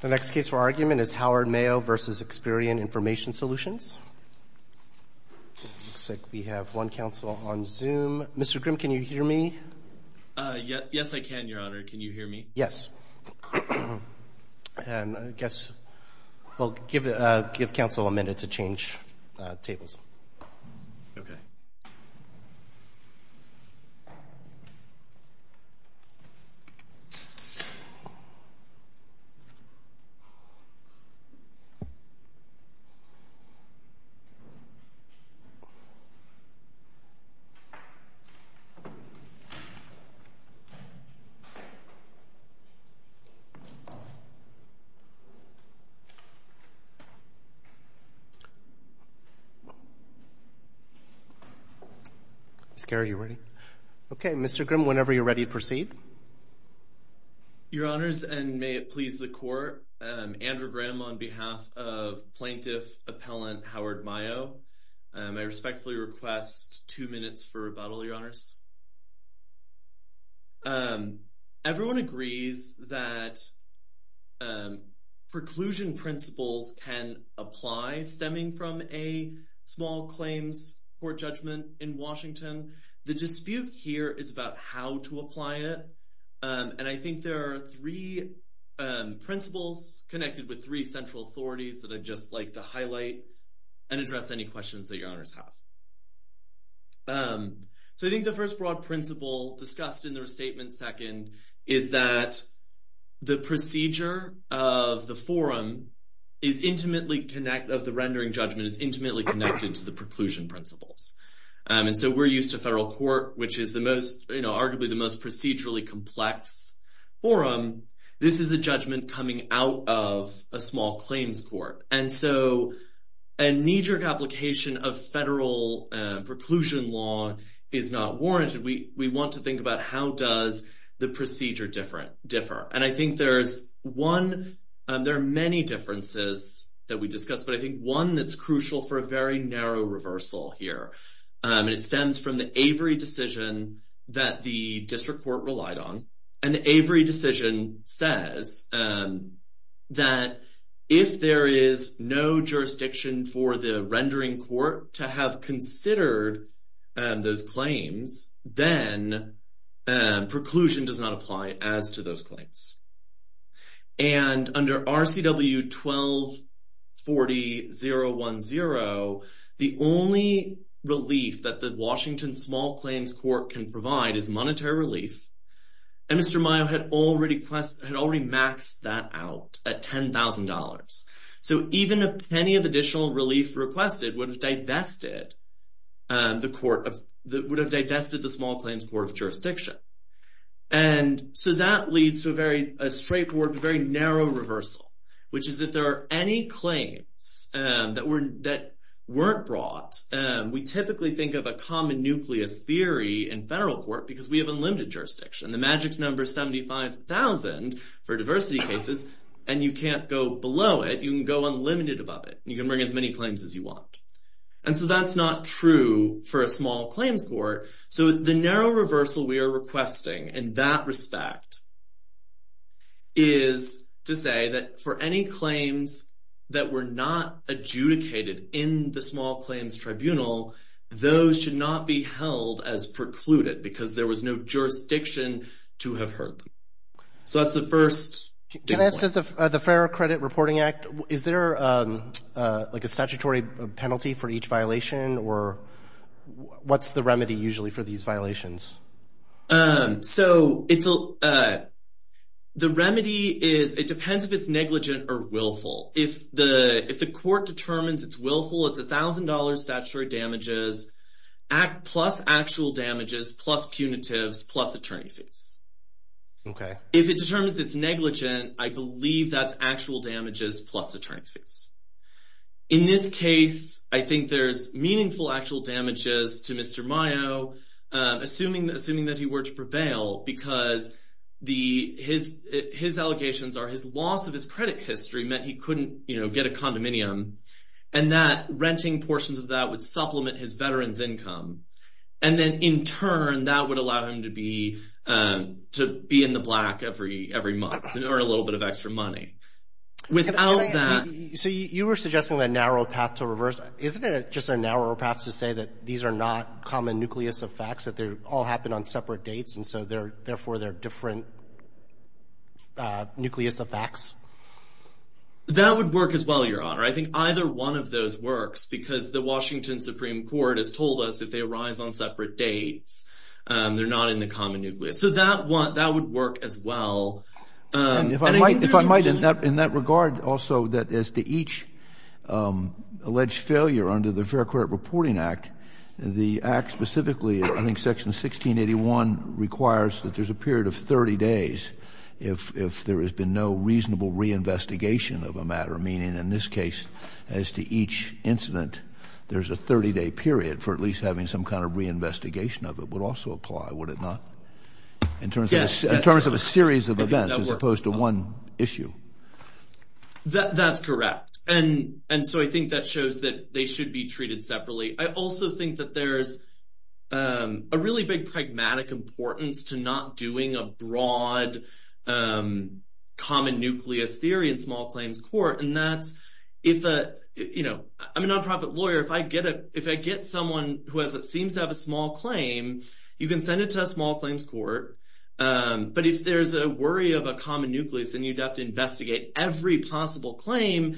The next case for argument is Howard Mayo v. Experian Information Solutions. It looks like we have one counsel on Zoom. Mr. Grimm, can you hear me? Yes, I can, Your Honor. Can you hear me? Yes. And I guess we'll give counsel a minute to change tables. Okay. Ms. Garrett, are you ready? Okay. Mr. Grimm, whenever you're ready, proceed. Your Honors, and may it please the Court, Andrew Grimm on behalf of Plaintiff Appellant Howard Mayo. I respectfully request two minutes for rebuttal, Your Honors. Everyone agrees that preclusion principles can apply stemming from a small claims court judgment in Washington. The dispute here is about how to apply it, and I think there are three principles connected with three central authorities that I'd just like to highlight and address any questions that Your Honors have. So I think the first broad principle discussed in the restatement second is that the procedure of the forum of the rendering judgment is intimately connected to the preclusion principles. And so we're used to federal court, which is arguably the most procedurally complex forum. This is a judgment coming out of a small claims court. And so a knee-jerk application of federal preclusion law is not warranted. We want to think about how does the procedure differ. And I think there are many differences that we discussed, but I think one that's crucial for a very narrow reversal here, and it stems from the Avery decision that the district court relied on. And the Avery decision says that if there is no jurisdiction for the rendering court to have considered those claims, then preclusion does not apply as to those claims. And under RCW 1240.010, the only relief that the Washington Small Claims Court can provide is monetary relief, and Mr. Mayo had already maxed that out at $10,000. So even a penny of additional relief requested would have digested the Small Claims Court of Jurisdiction. And so that leads to a very narrow reversal, which is if there are any claims that weren't brought, we typically think of a common nucleus theory in federal court because we have unlimited jurisdiction. The magic's number is 75,000 for diversity cases, and you can't go below it. You can go unlimited above it, and you can bring as many claims as you want. And so that's not true for a small claims court. So the narrow reversal we are requesting in that respect is to say that for any claims that were not adjudicated in the Small Claims Tribunal, those should not be held as precluded because there was no jurisdiction to have heard them. So that's the first point. So what does the Fair Credit Reporting Act, is there like a statutory penalty for each violation, or what's the remedy usually for these violations? So the remedy is it depends if it's negligent or willful. If the court determines it's willful, it's $1,000 statutory damages plus actual damages plus punitives plus attorney fees. If it determines it's negligent, I believe that's actual damages plus attorney fees. In this case, I think there's meaningful actual damages to Mr. Mayo, assuming that he were to prevail because his allegations are his loss of his credit history meant he couldn't get a condominium, and that renting portions of that would supplement his veteran's income. And then in turn, that would allow him to be in the black every month to earn a little bit of extra money. Without that – So you were suggesting a narrow path to reverse. Isn't it just a narrow path to say that these are not common nucleus effects, that they all happen on separate dates, and so therefore they're different nucleus effects? That would work as well, Your Honor. I think either one of those works because the Washington Supreme Court has told us if they arise on separate dates, they're not in the common nucleus. So that would work as well. If I might, in that regard also, that as to each alleged failure under the Fair Credit Reporting Act, the act specifically, I think Section 1681, requires that there's a period of 30 days if there has been no reasonable reinvestigation of a matter, meaning in this case as to each incident, there's a 30-day period for at least having some kind of reinvestigation of it would also apply, would it not? Yes. In terms of a series of events as opposed to one issue. That's correct. And so I think that shows that they should be treated separately. I also think that there's a really big pragmatic importance to not doing a broad common nucleus theory in small claims court. I'm a nonprofit lawyer. If I get someone who seems to have a small claim, you can send it to a small claims court. But if there's a worry of a common nucleus and you'd have to investigate every possible claim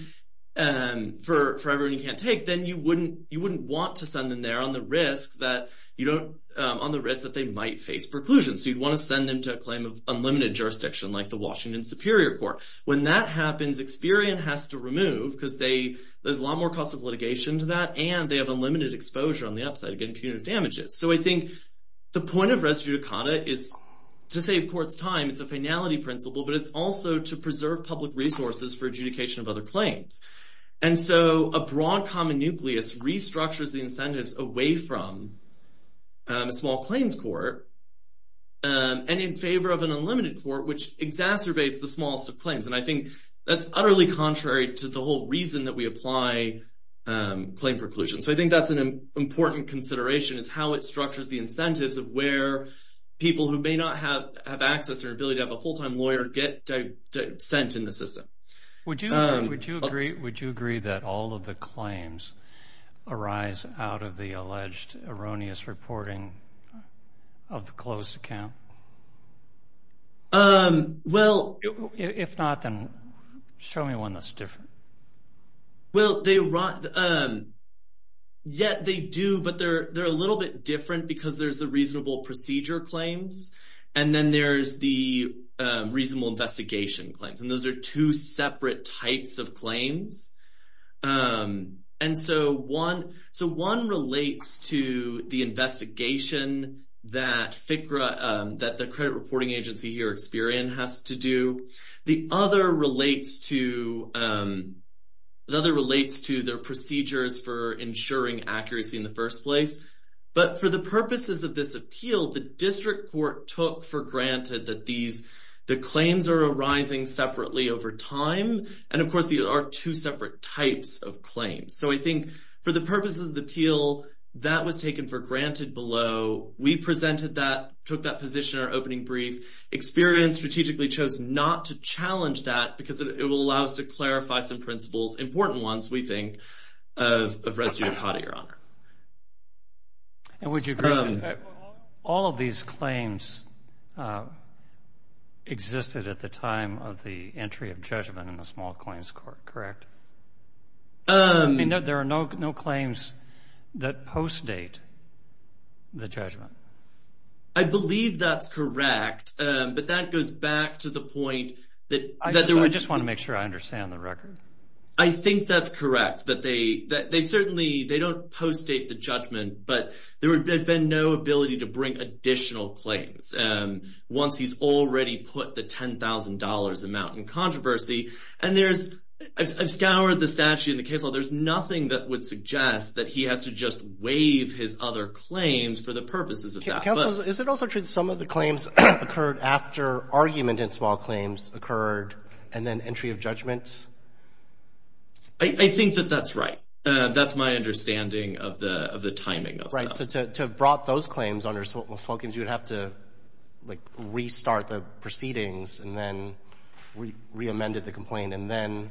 for everyone you can't take, then you wouldn't want to send them there on the risk that they might face preclusion. So you'd want to send them to a claim of unlimited jurisdiction like the Washington Superior Court. When that happens, Experian has to remove because there's a lot more cost of litigation to that and they have unlimited exposure on the upside of getting punitive damages. So I think the point of res judicata is to save courts time. It's a finality principle, but it's also to preserve public resources for adjudication of other claims. And so a broad common nucleus restructures the incentives away from a small claims court and in favor of an unlimited court, which exacerbates the smallest of claims. And I think that's utterly contrary to the whole reason that we apply claim preclusion. So I think that's an important consideration is how it structures the incentives of where people who may not have access or ability to have a full-time lawyer get sent in the system. Would you agree that all of the claims arise out of the alleged erroneous reporting of the closed account? If not, then show me one that's different. Well, they do, but they're a little bit different because there's the reasonable procedure claims and then there's the reasonable investigation claims. And those are two separate types of claims. And so one relates to the investigation that the credit reporting agency here, Experian, has to do. The other relates to their procedures for ensuring accuracy in the first place. But for the purposes of this appeal, the district court took for granted that the claims are arising separately over time. And of course, these are two separate types of claims. So I think for the purposes of the appeal, that was taken for granted below. We presented that, took that position in our opening brief. Experian strategically chose not to challenge that because it will allow us to clarify some principles, important ones, we think, of res judicata, Your Honor. And would you agree that all of these claims existed at the time of the entry of judgment in the small claims court, correct? I mean, there are no claims that post-date the judgment. I believe that's correct, but that goes back to the point that there were— I think that's correct, that they certainly—they don't post-date the judgment, but there had been no ability to bring additional claims once he's already put the $10,000 amount in controversy. And there's—I've scoured the statute and the case law. There's nothing that would suggest that he has to just waive his other claims for the purposes of that. Counsel, is it also true that some of the claims occurred after argument in small claims occurred and then entry of judgment? I think that that's right. That's my understanding of the timing of that. Right, so to have brought those claims under small claims, you would have to restart the proceedings and then reamended the complaint and then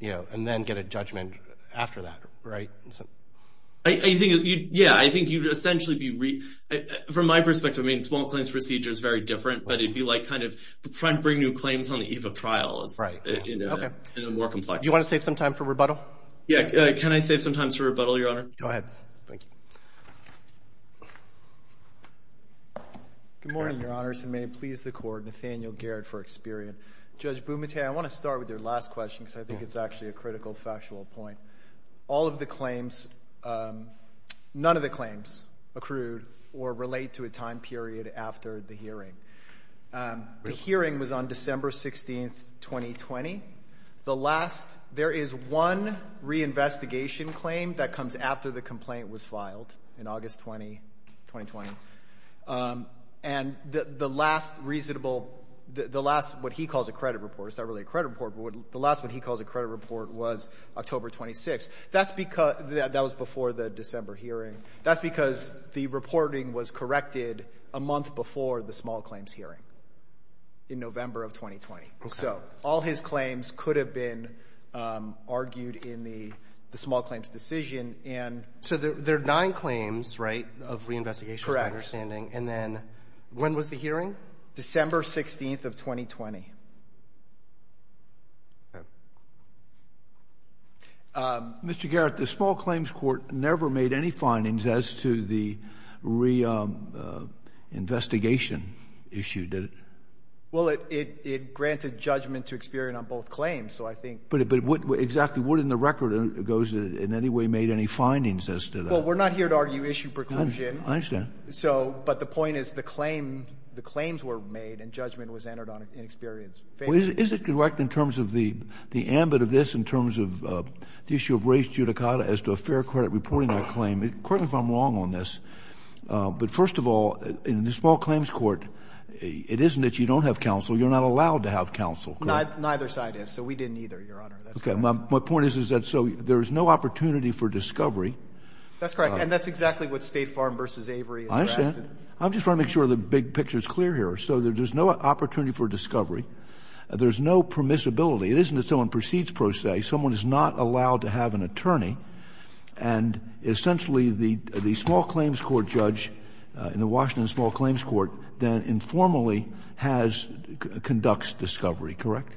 get a judgment after that, right? Yeah, I think you'd essentially be—from my perspective, I mean, small claims procedure is very different, but it'd be like kind of trying to bring new claims on the eve of trial is more complex. Do you want to save some time for rebuttal? Yeah, can I save some time for rebuttal, Your Honor? Go ahead. Good morning, Your Honors, and may it please the Court, Nathaniel Garrett for Experian. Judge Bumate, I want to start with your last question because I think it's actually a critical factual point. All of the claims—none of the claims accrued or relate to a time period after the hearing. The hearing was on December 16, 2020. The last—there is one reinvestigation claim that comes after the complaint was filed in August 20, 2020, and the last reasonable—the last what he calls a credit report. The last one he calls a credit report was October 26. That's because—that was before the December hearing. That's because the reporting was corrected a month before the small claims hearing in November of 2020. Okay. So all his claims could have been argued in the small claims decision and— So there are nine claims, right, of reinvestigations, my understanding. Correct. And then when was the hearing? December 16 of 2020. Mr. Garrett, the small claims court never made any findings as to the reinvestigation issue, did it? Well, it granted judgment to Experian on both claims, so I think— But exactly what in the record goes in any way made any findings as to that? Well, we're not here to argue issue preclusion. I understand. So — but the point is the claim — the claims were made and judgment was entered on in Experian's favor. Well, is it correct in terms of the — the ambit of this in terms of the issue of race judicata as to a fair credit reporting that claim? Correct me if I'm wrong on this, but first of all, in the small claims court, it isn't that you don't have counsel. You're not allowed to have counsel, correct? Neither side is, so we didn't either, Your Honor. That's correct. Okay. My point is, is that so there is no opportunity for discovery. That's correct. And that's exactly what State Farm v. Avery addressed. I understand. I'm just trying to make sure the big picture is clear here. So there's no opportunity for discovery. There's no permissibility. It isn't that someone proceeds pro se. Someone is not allowed to have an attorney. And essentially, the small claims court judge in the Washington Small Claims Court then informally has — conducts discovery, correct?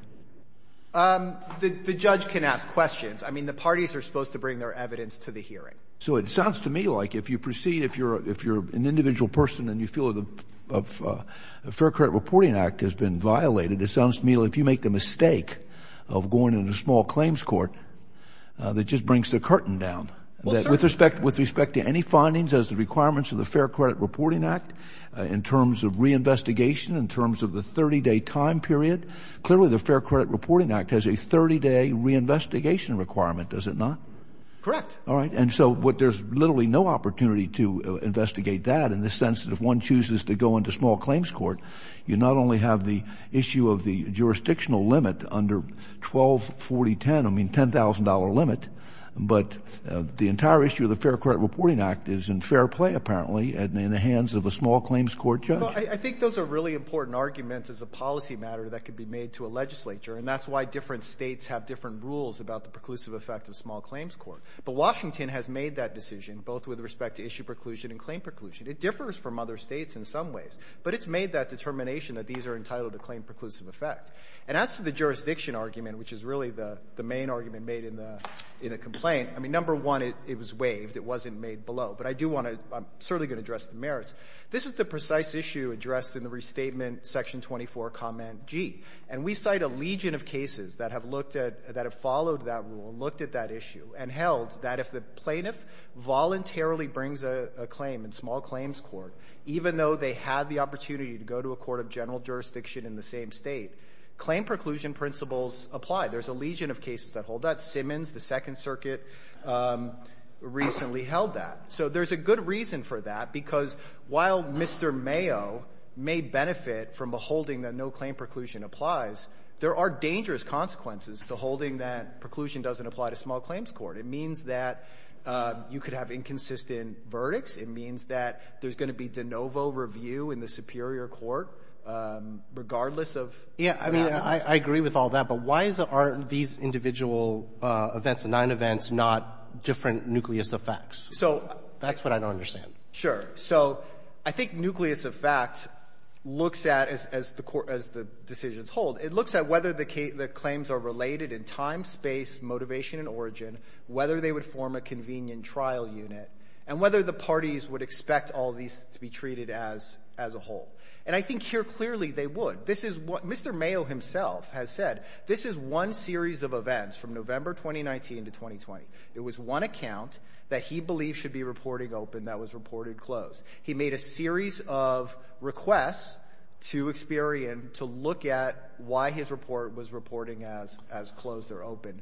The judge can ask questions. I mean, the parties are supposed to bring their evidence to the hearing. So it sounds to me like if you proceed, if you're an individual person and you feel the Fair Credit Reporting Act has been violated, it sounds to me like if you make the mistake of going into the small claims court, that just brings the curtain down. Well, sir — With respect to any findings as the requirements of the Fair Credit Reporting Act in terms of reinvestigation, in terms of the 30-day time period, clearly the Fair Credit Reporting Act has a 30-day reinvestigation requirement, does it not? Correct. All right. And so what there's literally no opportunity to investigate that in the sense that if one chooses to go into small claims court, you not only have the issue of the jurisdictional limit under 124010, I mean $10,000 limit, but the entire issue of the Fair Credit Reporting Act is in fair play, apparently, in the hands of a small claims court judge. I think those are really important arguments as a policy matter that could be made to a legislature, and that's why different states have different rules about the preclusive effect of small claims court. But Washington has made that decision, both with respect to issue preclusion and claim preclusion. It differs from other states in some ways, but it's made that determination that these are entitled to claim preclusive effect. And as to the jurisdiction argument, which is really the main argument made in the complaint, I mean, number one, it was waived. It wasn't made below. But I do want to — I'm certainly going to address the merits. This is the precise issue addressed in the Restatement Section 24, Comment G. And we cite a legion of cases that have looked at — that have followed that rule, looked at that issue, and held that if the plaintiff voluntarily brings a claim in small claims court, even though they had the opportunity to go to a court of general jurisdiction in the same State, claim preclusion principles apply. There's a legion of cases that hold that. Simmons, the Second Circuit, recently held that. So there's a good reason for that, because while Mr. Mayo may benefit from a holding that no claim preclusion applies, there are dangerous consequences to holding that doesn't apply to small claims court. It means that you could have inconsistent verdicts. It means that there's going to be de novo review in the superior court, regardless of the evidence. Roberts. Yeah. I mean, I agree with all that. But why is it aren't these individual events, the nine events, not different nucleus of facts? So that's what I don't understand. Sure. So I think nucleus of facts looks at, as the court — as the decisions hold, it looks at whether the claims are related in time, space, motivation, and origin, whether they would form a convenient trial unit, and whether the parties would expect all these to be treated as a whole. And I think here clearly they would. This is what Mr. Mayo himself has said. This is one series of events from November 2019 to 2020. It was one account that he believed should be reporting open that was reported closed. He made a series of requests to Experian to look at why his report was reporting as — as closed or open.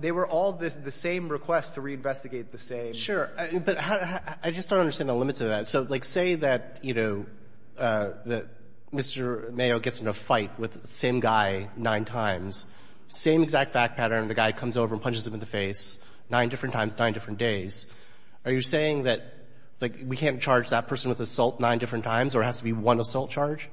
They were all the same requests to reinvestigate the same. Sure. But I just don't understand the limits of that. So, like, say that, you know, Mr. Mayo gets in a fight with the same guy nine times, same exact fact pattern, the guy comes over and punches him in the face nine different times, nine different days. Are you saying that, like, we can't charge that person with assault nine different times, or it has to be one assault charge?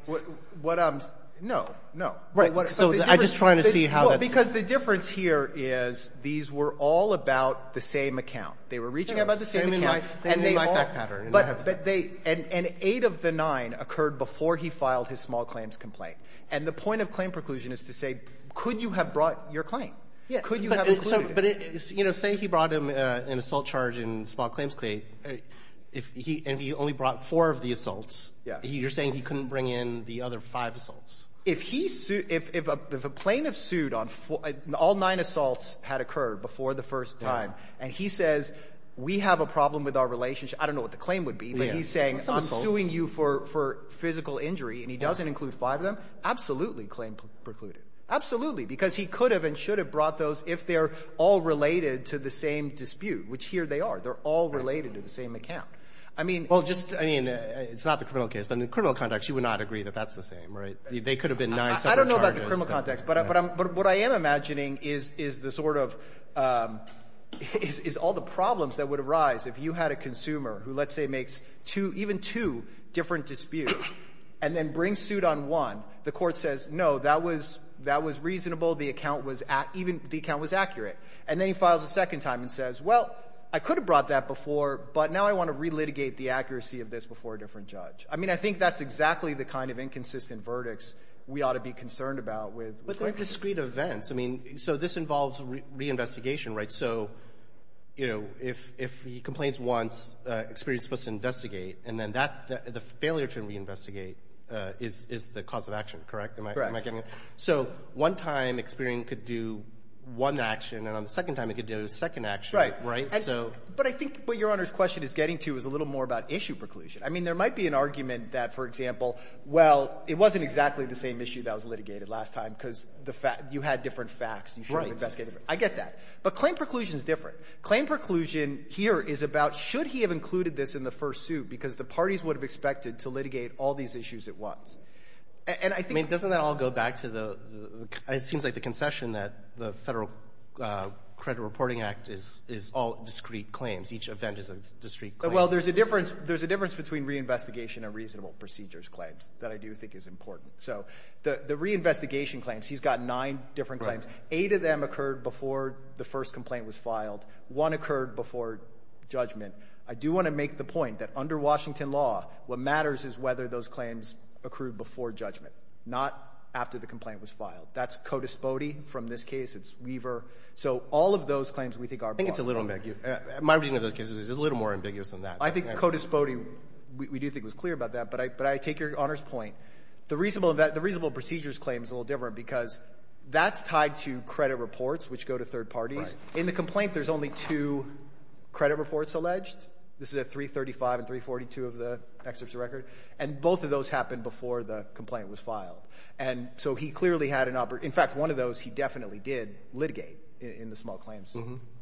What I'm — no, no. Right. So I'm just trying to see how that's — Because the difference here is these were all about the same account. They were reaching about the same account. Same exact pattern. But they — and eight of the nine occurred before he filed his small claims complaint. And the point of claim preclusion is to say, could you have brought your claim? Could you have included it? But, you know, say he brought him an assault charge in small claims claim, and he only brought four of the assaults. You're saying he couldn't bring in the other five assaults. If he — if a plaintiff sued on — all nine assaults had occurred before the first time, and he says, we have a problem with our relationship — I don't know what the claim would be, but he's saying, I'm suing you for physical injury, and he doesn't include five of them, absolutely claim precluded. Absolutely. Because he could have and should have brought those if they're all related to the same dispute, which here they are. They're all related to the same account. I mean — Well, just — I mean, it's not the criminal case. But in the criminal context, you would not agree that that's the same, right? They could have been nine separate charges. I don't know about the criminal context. But what I am imagining is the sort of — is all the problems that would arise if you had a consumer who, let's say, makes two — even two different disputes and then brings suit on one. The court says, no, that was — that was reasonable. The account was — even the account was accurate. And then he files a second time and says, well, I could have brought that before, but now I want to relitigate the accuracy of this before a different judge. I mean, I think that's exactly the kind of inconsistent verdicts we ought to be concerned about with — But they're discrete events. I mean, so this involves reinvestigation, right? So, you know, if — if he complains once, experience is supposed to investigate, and then that — the failure to reinvestigate is the cause of action, correct? Correct. Am I getting it? So one time experience could do one action, and on the second time it could do a second action. Right. Right. So — But I think what Your Honor's question is getting to is a little more about issue preclusion. I mean, there might be an argument that, for example, well, it wasn't exactly the same issue that was litigated last time because the fact — you had different facts. Right. You should have investigated it. I get that. But claim preclusion is different. Claim preclusion here is about should he have included this in the first suit because the parties would have expected to litigate all these issues at once. And I think — I mean, doesn't that all go back to the — it seems like the concession that the Federal Credit Reporting Act is all discrete claims. Each event is a discrete claim. Well, there's a difference — there's a difference between reinvestigation and reasonable procedures claims that I do think is important. So the reinvestigation claims, he's got nine different claims. Right. Eight of them occurred before the first complaint was filed. One occurred before judgment. I do want to make the point that under Washington law, what matters is whether those claims occurred before judgment, not after the complaint was filed. That's CODIS-BODE from this case. It's Weaver. So all of those claims we think are important. I think it's a little ambiguous. My reading of those cases is it's a little more ambiguous than that. I think CODIS-BODE, we do think, was clear about that. But I take Your Honor's point. The reasonable procedures claim is a little different because that's tied to credit reports, which go to third parties. Right. In the complaint, there's only two credit reports alleged. This is at 335 and 342 of the excerpts of record. And both of those happened before the complaint was filed. And so he clearly had an — in fact, one of those he definitely did litigate in the small claims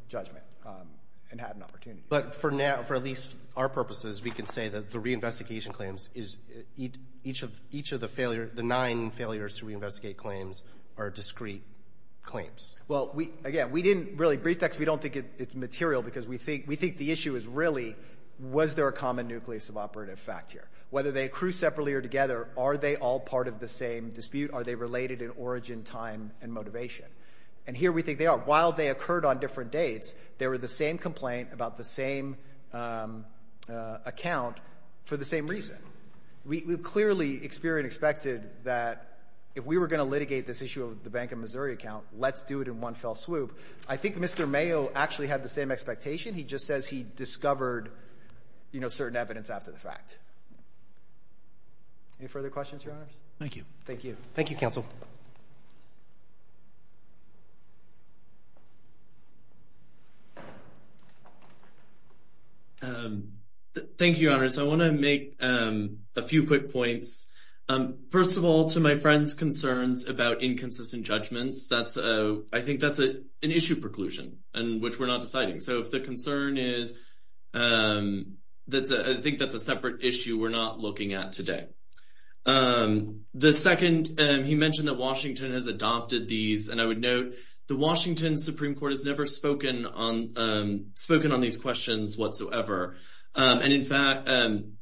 judgment and had an opportunity. But for now, for at least our purposes, we can say that the reinvestigation claims is each of the failure — the nine failures to reinvestigate claims are discrete claims. Well, again, we didn't really brief text. We don't think it's material because we think the issue is really was there a common nucleus of operative fact here? Whether they accrue separately or together, are they all part of the same dispute? Are they related in origin, time, and motivation? And here we think they are. While they occurred on different dates, they were the same complaint about the same account for the same reason. We clearly experienced and expected that if we were going to litigate this issue with the Bank of Missouri account, let's do it in one fell swoop. I think Mr. Mayo actually had the same expectation. He just says he discovered, you know, certain evidence after the fact. Any further questions, Your Honors? Thank you. Thank you. Thank you, Counsel. Thank you, Your Honors. I want to make a few quick points. First of all, to my friend's concerns about inconsistent judgments, I think that's an issue preclusion in which we're not deciding. So if the concern is, I think that's a separate issue we're not looking at today. The second, he mentioned that Washington has adopted these. And I would note the Washington Supreme Court has never spoken on these questions whatsoever. And, in fact,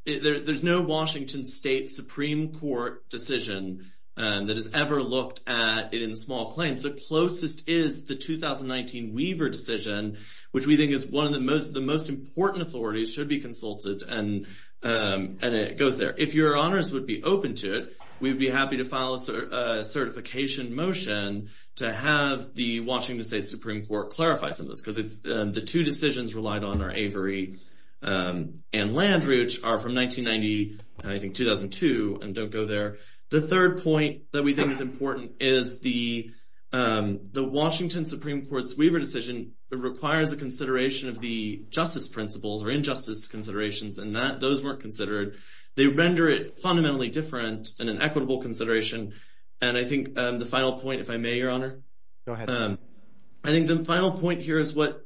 there's no Washington State Supreme Court decision that has ever looked at it in small claims. The closest is the 2019 Weaver decision, which we think is one of the most important authorities should be consulted, and it goes there. If Your Honors would be open to it, we'd be happy to file a certification motion to have the Washington State Supreme Court clarify some of this because the two decisions relied on are Avery and Landry, which are from 1990, I think 2002, and don't go there. The third point that we think is important is the Washington Supreme Court's Weaver decision requires a consideration of the justice principles or injustice considerations, and those weren't considered. They render it fundamentally different and an equitable consideration. And I think the final point, if I may, Your Honor? Go ahead. I think the final point here is what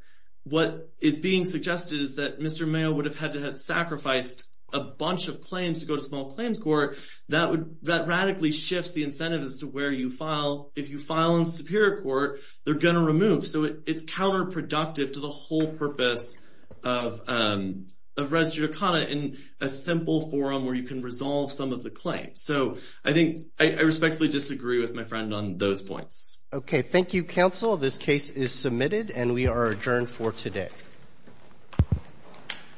is being suggested is that Mr. Mayo would have had to have sacrificed a bunch of claims to go to small claims court. That radically shifts the incentives as to where you file. If you file in the Superior Court, they're going to remove. So it's counterproductive to the whole purpose of res judicata in a simple forum where you can resolve some of the claims. So I think I respectfully disagree with my friend on those points. Okay. Thank you, Counsel. This case is submitted and we are adjourned for today.